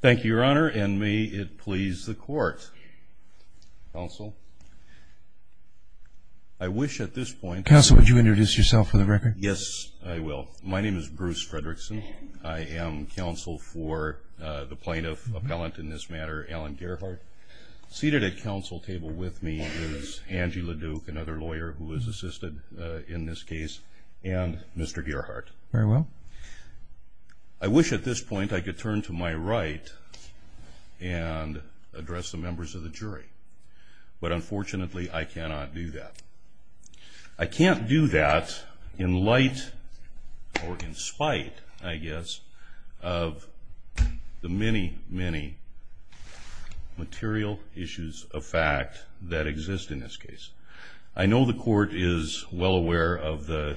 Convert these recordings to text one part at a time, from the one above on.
thank you your honor and may it please the court also I wish at this point council would you introduce yourself for the record yes I will my name is Bruce Fredrickson I am counsel for the plaintiff appellant in this matter Alan Gerhart seated at council table with me is Angela Duke another lawyer who was assisted in this case and mr. Gerhart very well I wish at this point I could turn to my right and address the members of the jury but unfortunately I cannot do that I can't do that in light or in spite I guess of the many many material issues of fact that exist in this case I know the court is well aware of the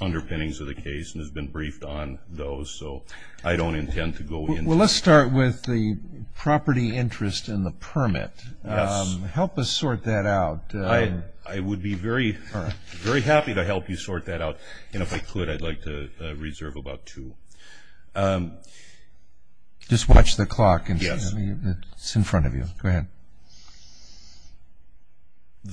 underpinnings of the case and has been briefed on those so I don't intend to go in well let's start with the property interest in the permit help us sort that out I I would be very very happy to help you sort that out and if I could I'd like to reserve about two just watch the clock and yes it's in front of you go and the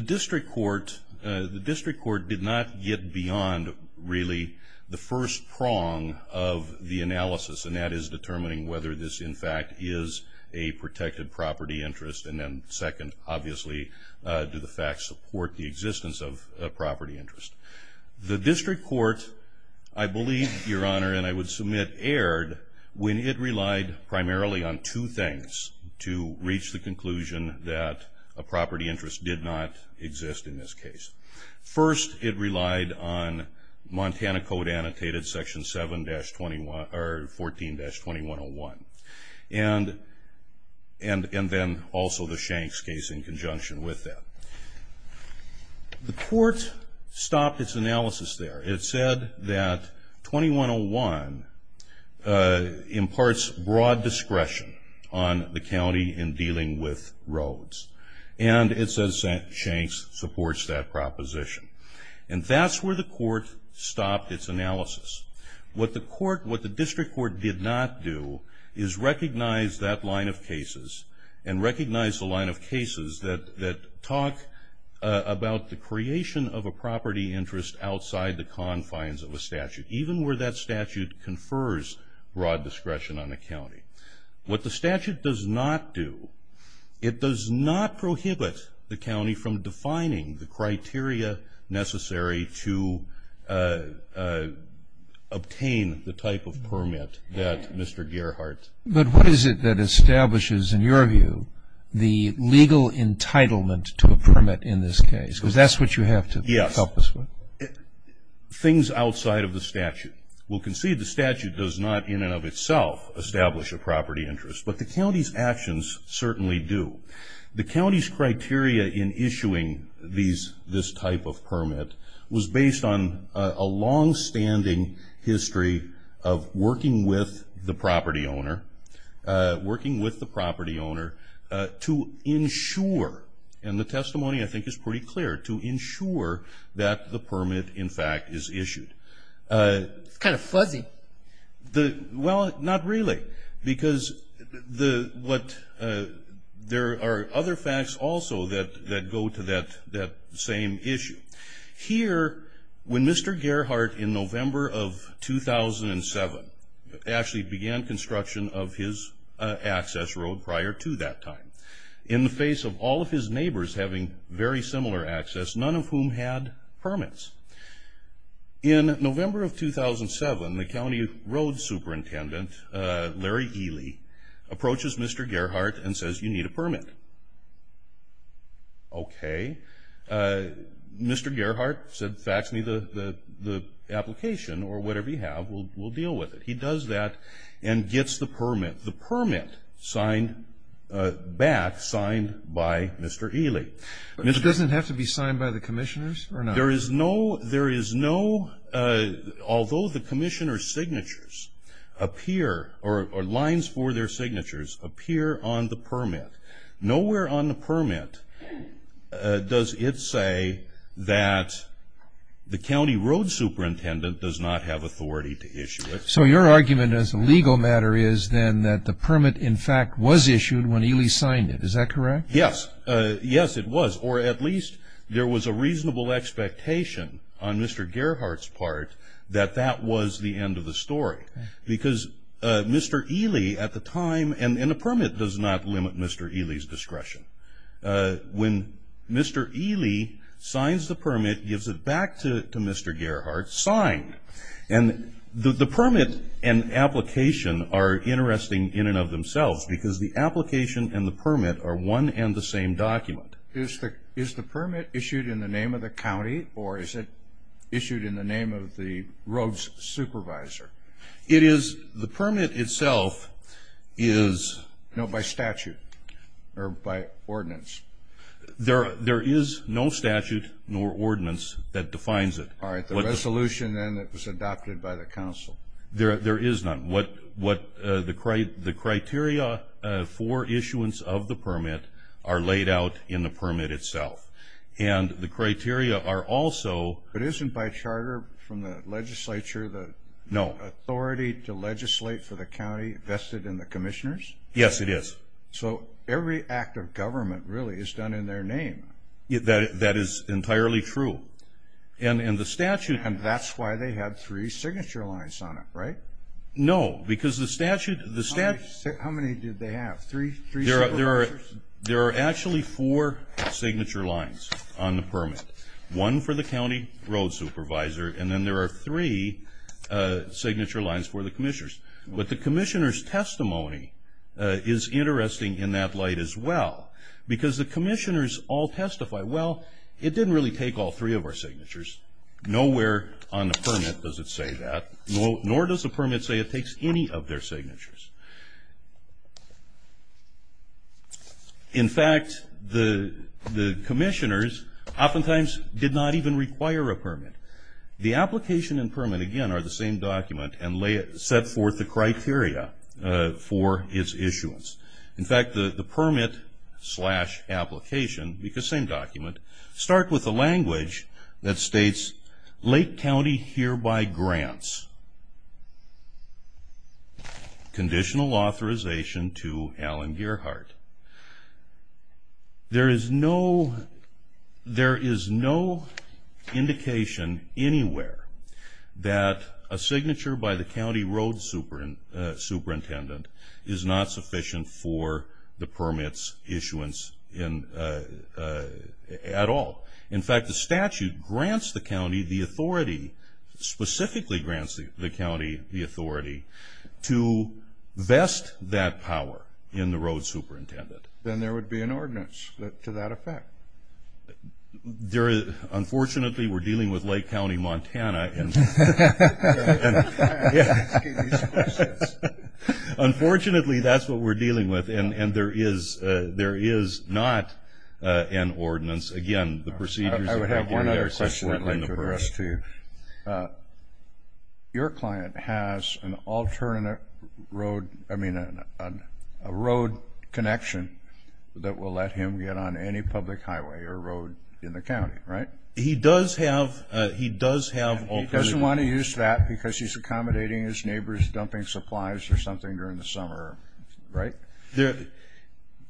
district court the district court did not get beyond really the first prong of the analysis and that is determining whether this in fact is a protected property interest and then second obviously do the facts support the existence of property interest the district court I believe your honor and I would submit aired when it relied primarily on two things to reach the conclusion that a property interest did not exist in this case first it relied on Montana code annotated section 7-21 or 14-2101 and and and then also the shanks case in conjunction with that the court stopped its analysis there it said that 2101 imparts broad discretion on the county in dealing with roads and it says that shanks supports that proposition and that's where the court stopped its analysis what the court what the district court did not do is recognize that line of cases and recognize the line of cases that that about the creation of a property interest outside the confines of the statute even where that statute confers broad discretion on the county what the statute does not do it does not prohibit the county from defining the criteria necessary to obtain the type of permit that Mr. Gearhart but what is it that entitlement to a permit in this case because that's what you have to help us with things outside of the statute will concede the statute does not in and of itself establish a property interest but the county's actions certainly do the county's criteria in issuing these this type of permit was based on a long-standing history of working with the property owner working with the and the testimony I think is pretty clear to ensure that the permit in fact is issued kind of fuzzy the well not really because the what there are other facts also that that go to that that same issue here when mr. Gearhart in November of 2007 actually began construction of his access road prior to that time in the face of all of his neighbors having very similar access none of whom had permits in November of 2007 the County Road superintendent Larry Ely approaches mr. Gearhart and says you need a permit okay mr. Gearhart said fax me the the application or whatever you have we'll deal with it he does that and gets the permit the permit signed back signed by mr. Ely it doesn't have to be signed by the commissioners or not there is no there is no although the Commissioner's signatures appear or lines for their signatures appear on the permit nowhere on the permit does it say that the County Road superintendent does have authority to issue it so your argument as a legal matter is then that the permit in fact was issued when Ely signed it is that correct yes yes it was or at least there was a reasonable expectation on mr. Gearhart's part that that was the end of the story because mr. Ely at the time and in a permit does not limit mr. Ely's discretion when mr. Ely signs the permit gives it back to mr. Gearhart signed and the permit and application are interesting in and of themselves because the application and the permit are one and the same document is the is the permit issued in the name of the county or is it issued in the name of the roads supervisor it is the permit itself is no by statute or by ordinance there there is no statute nor ordinance that defines it all right the resolution and it was adopted by the council there there is none what what the crate the criteria for issuance of the permit are laid out in the permit itself and the criteria are also but isn't by charter from the legislature the no authority to legislate for the county vested in the commissioners yes it is so every act of government really is done in their name that that is entirely true and in the statute and that's why they had three signature lines on it right no because the statute the staff how many did they have three there are there are there are actually four signature lines on the permit one for the county road supervisor and then there are three signature lines for the commissioners but the commissioners testimony is interesting in that light as well because the commissioners all testify well it didn't really take all three of our signatures nowhere on the permit does it say that no nor does the permit say it takes any of their signatures in fact the the commissioners oftentimes did not even require a permit the application and permit again are the same document and lay it set forth the criteria for its issuance in fact the permit slash application because same document start with the language that states Lake County hereby grants conditional authorization to Alan signature by the county road super and superintendent is not sufficient for the permits issuance in at all in fact the statute grants the county the authority specifically grants the county the authority to vest that power in the road superintendent then there would be an ordinance to that effect there is unfortunately we're dealing with Lake County Montana and unfortunately that's what we're dealing with and and there is there is not an ordinance again the procedure your client has an alternate road I mean a road connection that will let him get on any public highway or road in the county right he does have he does have all doesn't want to use that because he's accommodating his neighbors dumping supplies or something during the summer right there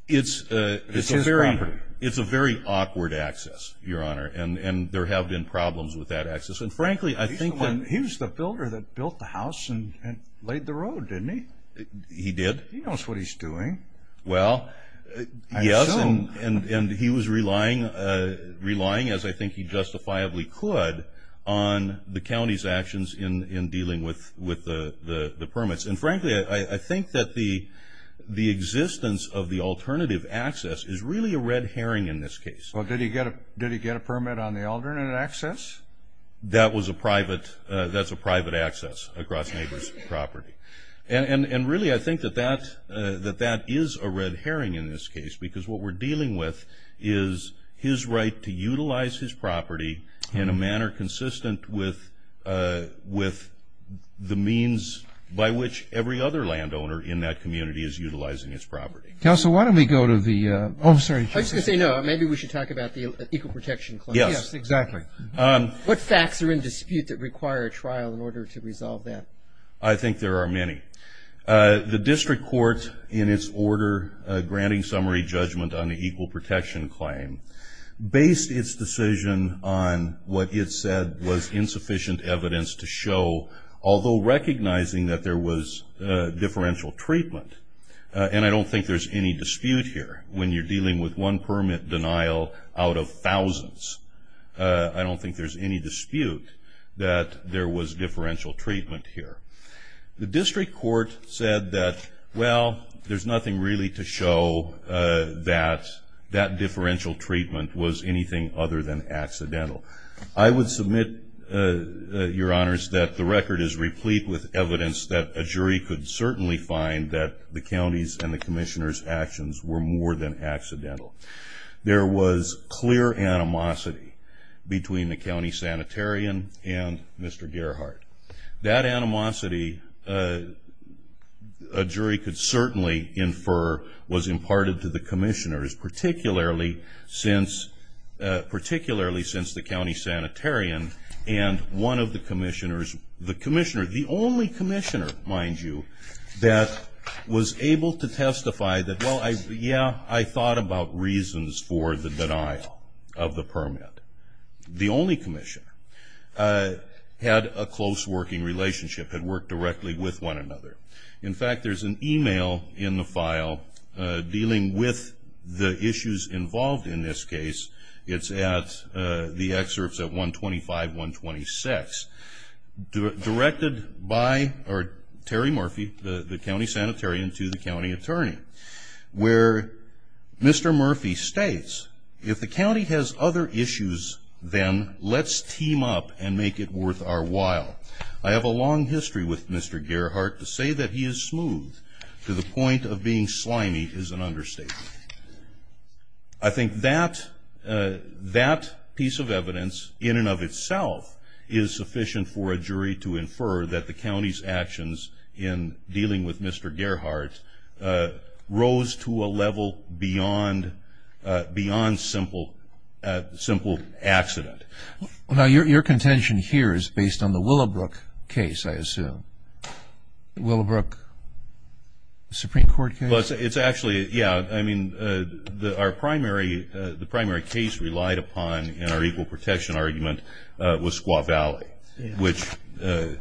it's it's a very it's a very awkward access your honor and and there have been problems with that access and frankly I think when he was the builder that built the house and laid the didn't he did what he's doing well and he was relying relying as I think he justifiably could on the county's actions in in dealing with with the permits and frankly I think that the the existence of the alternative access is really a red herring in this case what did he get a did he get a permit on the that was a private that's a private access across neighbors property and and really I think that that that that is a red herring in this case because what we're dealing with is his right to utilize his property in a manner consistent with with the means by which every other landowner in that community is utilizing its property so why don't we go to the officer maybe we should talk about the equal protection yes exactly what facts are in dispute that require a trial in order to resolve that I think there are many the district court in its order granting summary judgment on the equal protection claim based its decision on what it said was insufficient evidence to show although recognizing that there was a differential treatment and I don't think there's any dispute here when you're dealing with one permit denial out of thousands I don't think there's any dispute that there was differential treatment here the district court said that well there's nothing really to show that that differential treatment was anything other than accidental I would admit your honors that the record is replete with evidence that a jury could certainly find that the county's and the commissioners actions were more than accidental there was clear animosity between the county sanitarium and mr. Gerhart that animosity a jury could certainly infer was imparted to the commissioners particularly since particularly since the county sanitarium and one of the commissioners the Commissioner the only Commissioner mind you that was able to testify that well I yeah I thought about reasons for the denial of the permit the only Commission had a close working relationship had worked directly with one another in fact there's an email in the file dealing with the issues involved in this case it's at the excerpts at 125 126 directed by our Terry Murphy the county sanitarium to the county attorney where mr. Murphy states if the county has other issues then let's team up and make it worth our while I have a long history with mr. Gerhart to say that he is smooth to the point of being slimy is an understatement I think that that piece of evidence in and of itself is sufficient for a jury to infer that the county's actions in dealing with mr. Gerhart rose to a level beyond beyond simple simple accident well now your contention here is based on the Willowbrook case I assume Willowbrook Supreme Court but it's actually yeah I mean the our primary the primary case relied upon in our equal protection argument was Squaw Valley which yeah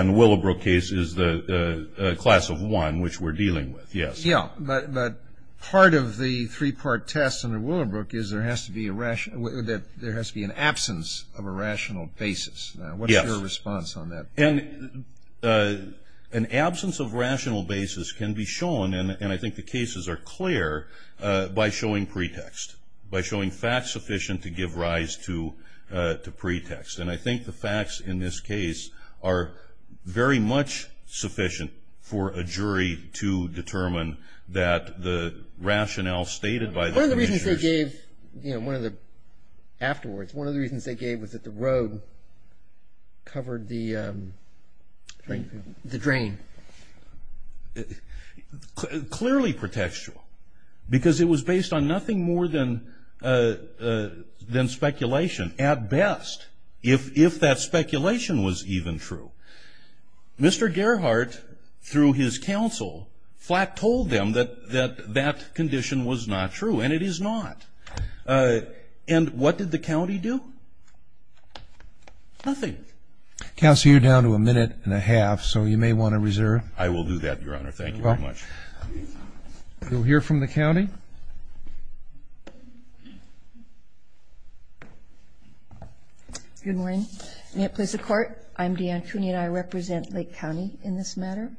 in the Willowbrook case is the class of one which we're dealing with yes yeah but but part of the three-part test in the Willowbrook is there has to be a rational that there has to be an absence of a rational basis what is your response on that and an absence of rational basis can be shown and I think the cases are clear by showing pretext by showing facts sufficient to give rise to to pretext and I think the facts in this case are very much sufficient for a jury to determine that the rationale stated by the reasons they gave you know one of the afterwards one of the reasons they gave was that the road covered the the drain clearly pretextual because it was based on nothing more than than speculation at best if if that speculation was even true mr. Gerhart through his counsel flat told them that that that condition was not true and it is not and what did the county do nothing counsel you're down to a minute and a half so you may want to reserve I will do that your honor thank you very much you'll hear from the county good morning may it please the court I'm Deanne Cooney and I represent Lake County in this matter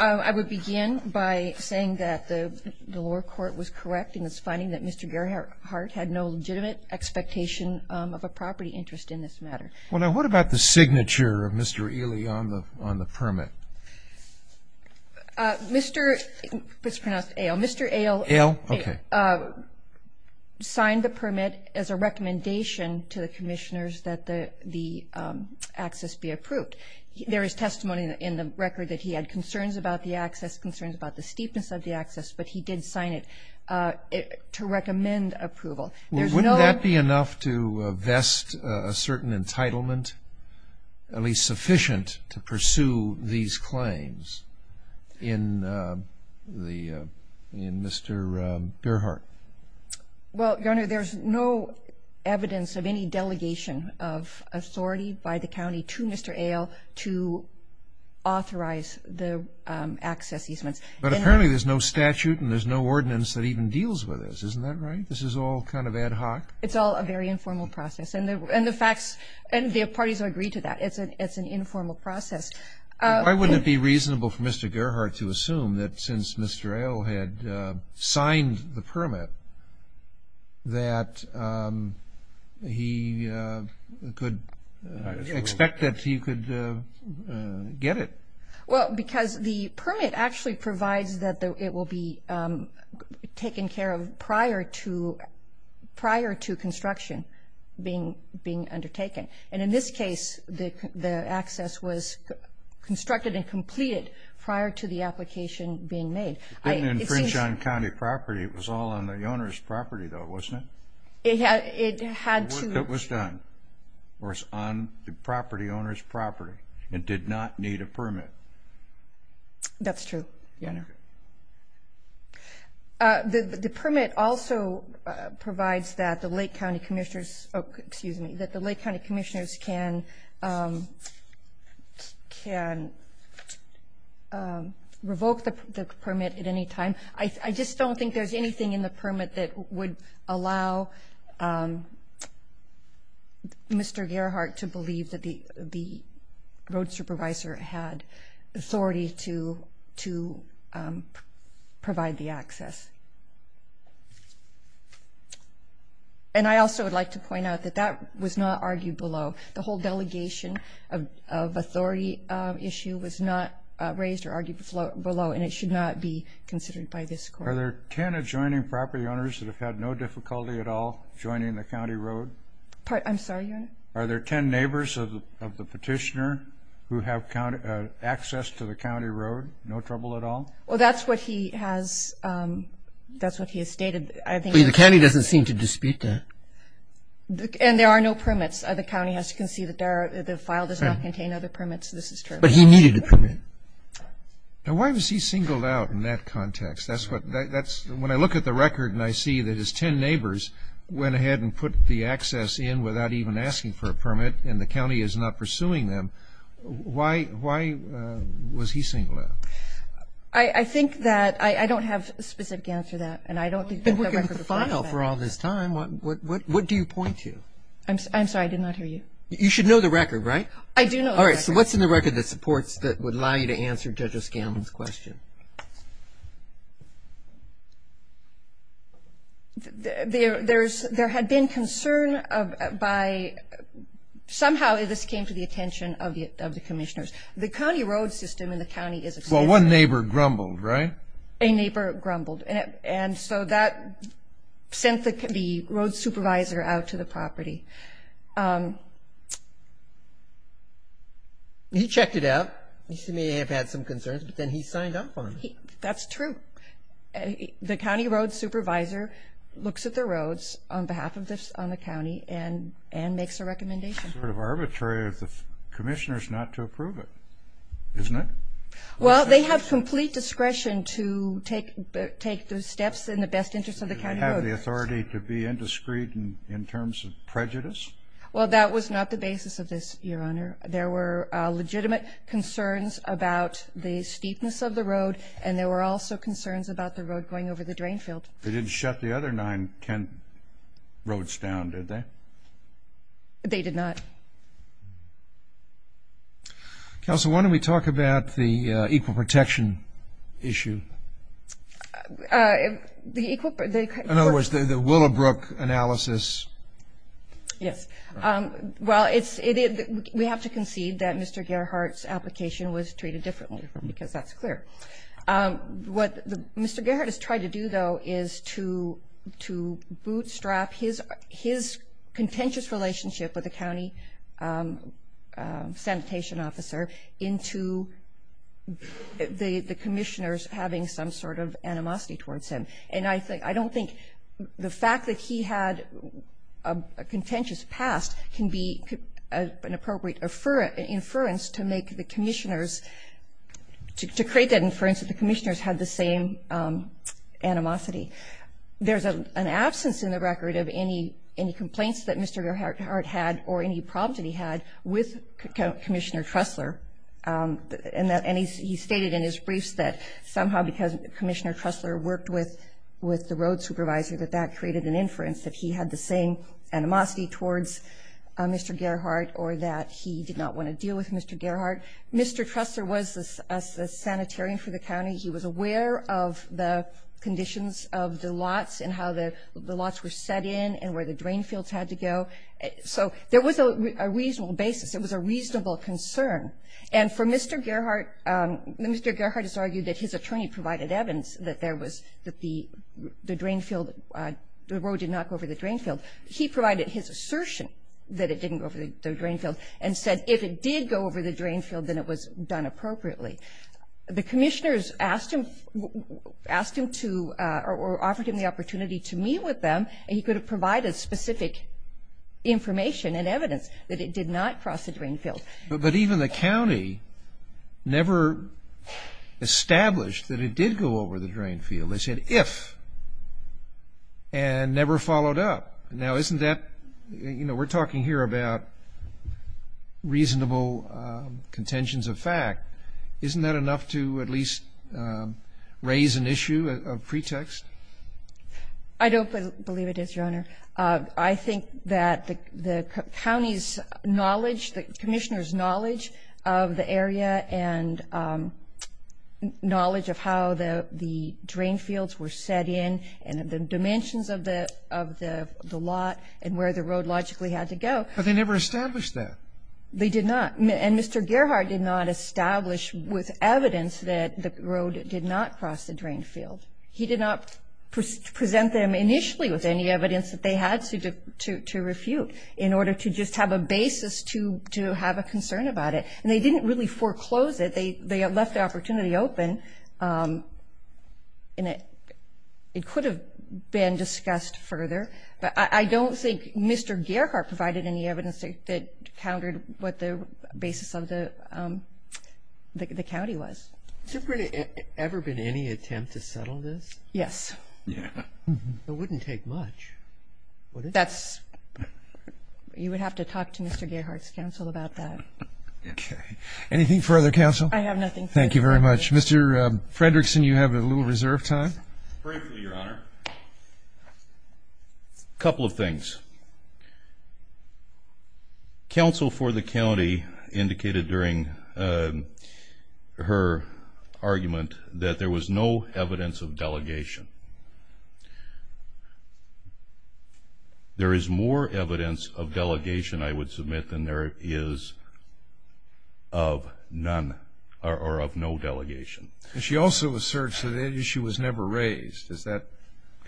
I would begin by saying that the lower court was correct in its Mr. Gerhart had no legitimate expectation of a property interest in this matter well now what about the signature of mr. Ely on the on the permit mr. mr. ale ale sign the permit as a recommendation to the commissioners that the the access be approved there is testimony in the record that he had concerns about the access concerns about the steepness of the access but he did sign it to recommend approval there's no that be enough to vest a certain entitlement at least sufficient to pursue these claims in the in mr. Gerhart well there's no evidence of any delegation of authority by the county to mr. ale to authorize the access easements but apparently there's no statute and there's no ordinance that even deals with this isn't that right this is all kind of ad hoc it's all a very informal process and the and the facts and the parties are agreed to that it's a it's an informal process why wouldn't it be reasonable for mr. Gerhart to assume that since mr. ale had signed the permit that he could expect that he could get it well because the taken care of prior to prior to construction being being undertaken and in this case the access was constructed and completed prior to the application being made I didn't French on County property it was all on the owner's property though wasn't it yeah it had to it was done or it's on the property property it did not need a permit that's true the permit also provides that the Lake County Commissioners excuse me that the Lake County Commissioners can can revoke the permit at any time I just don't think there's anything in the the road supervisor had authority to to provide the access and I also would like to point out that that was not argued below the whole delegation of authority issue was not raised or argued below and it should not be considered by this court are there 10 adjoining property owners that have had no difficulty at all joining the county road I'm sorry are there 10 neighbors of the petitioner who have county access to the county road no trouble at all well that's what he has that's what he has stated I think the county doesn't seem to dispute that and there are no permits the county has to concede that there the file does not contain other permits this is true but he needed a permit now why was he singled out in that context that's what that's when I look at the record and I see that his 10 neighbors went ahead and put the access in without even asking for a permit and the county is not pursuing them why why was he singled out I I think that I I don't have a specific answer that and I don't think we're gonna file for all this time what what what do you point to I'm sorry I did not hear you you should know the record right I do know all right so what's in the record that supports that would lie to answer judges gambles question there there's there had been concern of by somehow this came to the attention of the of the commissioners the county road system in the county is well one neighbor grumbled right a neighbor grumbled and so that sent the could be road supervisor out to the property he checked it out you see me had some concerns but then he signed up on that's true the county road supervisor looks at the roads on behalf of this on the county and and makes a recommendation of arbitrary of the commissioners not to approve it isn't it well they have complete discretion to take take those steps in the best interest of the county have the authority to be indiscreet and in terms of prejudice well that was not the basis of this your honor there were legitimate concerns about the steepness of the road and there were also concerns about the road going over the drain field they didn't shut the other nine Kent roads down did they they did not council why don't we talk about the equal protection issue in other words the Willowbrook analysis yes well it's it we have to hearts application was treated differently because that's clear what mr. Garrett has tried to do though is to to bootstrap his his contentious relationship with the county sanitation officer into the the commissioners having some sort of animosity towards him and I think I don't think the fact that he had a contentious past can be an appropriate for an inference to make the commissioners to create that inference that the commissioners had the same animosity there's a an absence in the record of any any complaints that mr. Garrett had or any problems that he had with Commissioner Tressler and that any he stated in his briefs that somehow because Commissioner Tressler worked with with the road supervisor that that created an inference that he had the same animosity towards mr. Gerhart or that he did not want to deal with mr. Gerhart mr. Tressler was a sanitarian for the county he was aware of the conditions of the lots and how the lots were set in and where the drain fields had to go so there was a reasonable basis it was a reasonable concern and for mr. Gerhart mr. Gerhart has argued that his attorney provided Evans that there was that the the drain field the road did not go over the drain field he provided his assertion that it didn't go over the drain field and said if it did go over the drain field then it was done appropriately the commissioners asked him asked him to or offered him the opportunity to meet with them and he could have provided specific information and evidence that it did not cross the drain field but even the county never established that it did go over the field they said if and never followed up now isn't that you know we're talking here about reasonable contentions of fact isn't that enough to at least raise an issue of pretext I don't believe it is your honor I think that the county's knowledge the commissioners knowledge of the area and knowledge of how the the drain fields were set in and the dimensions of the of the lot and where the road logically had to go but they never established that they did not and mr. Gerhart did not establish with evidence that the road did not cross the drain field he did not present them initially with any evidence that they had to to to refute in order to just have a basis to to have a concern about it and they didn't really foreclose it they they had left the opportunity open in it it could have been discussed further but I don't think mr. Gerhart provided any evidence that countered what the basis of the the county was super ever been any attempt to settle this yes yeah it wouldn't take much that's you would have to talk to anything further counsel I have nothing thank you very much mr. Fredrickson you have a little reserve time couple of things counsel for the county indicated during her argument that there was no evidence of delegation there is more evidence of delegation I would submit than there is of none or of no delegation she also asserts that issue was never raised is that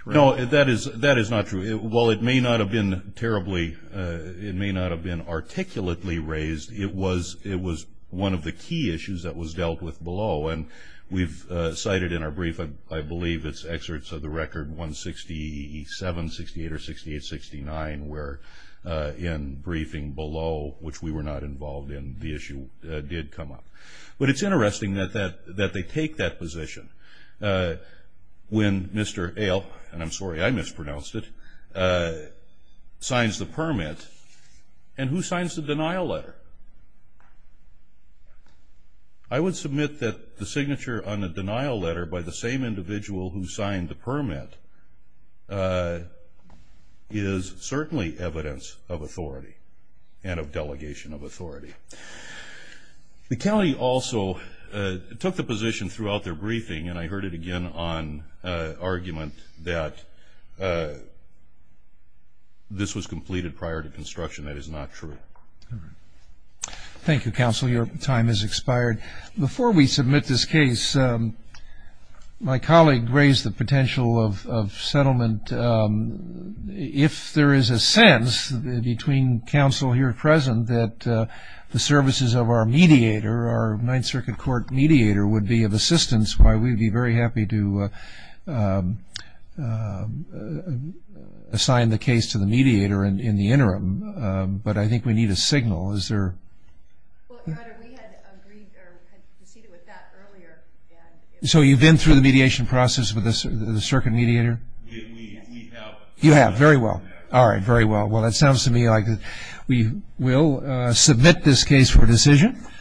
that is that is not true it will it may not have been terribly it may not have been articulately raised it was it was one of the key issues that was dealt with below and we've cited in brief and I believe it's excerpts of the record 167 68 or 68 69 where in briefing below which we were not involved in the issue did come up but it's interesting that that that they take that position when mr. ale and I'm sorry I mispronounced it signs the permit and who signs the denial letter I would submit that the signature on the denial letter by the same individual who signed the permit is certainly evidence of authority and of delegation of authority the county also took the position throughout their briefing and I heard it again on argument that this was completed prior to construction that is not true thank you counsel your time is expired before we submit this case my colleague raised the potential of settlement if there is a sense between counsel here present that the services of our mediator our Ninth Circuit Court mediator would be of assistance why we'd be very happy to assign the case to the I think we need a signal is there so you've been through the mediation process with us the circuit mediator you have very well all right very well well it sounds to me like we will submit this case for decision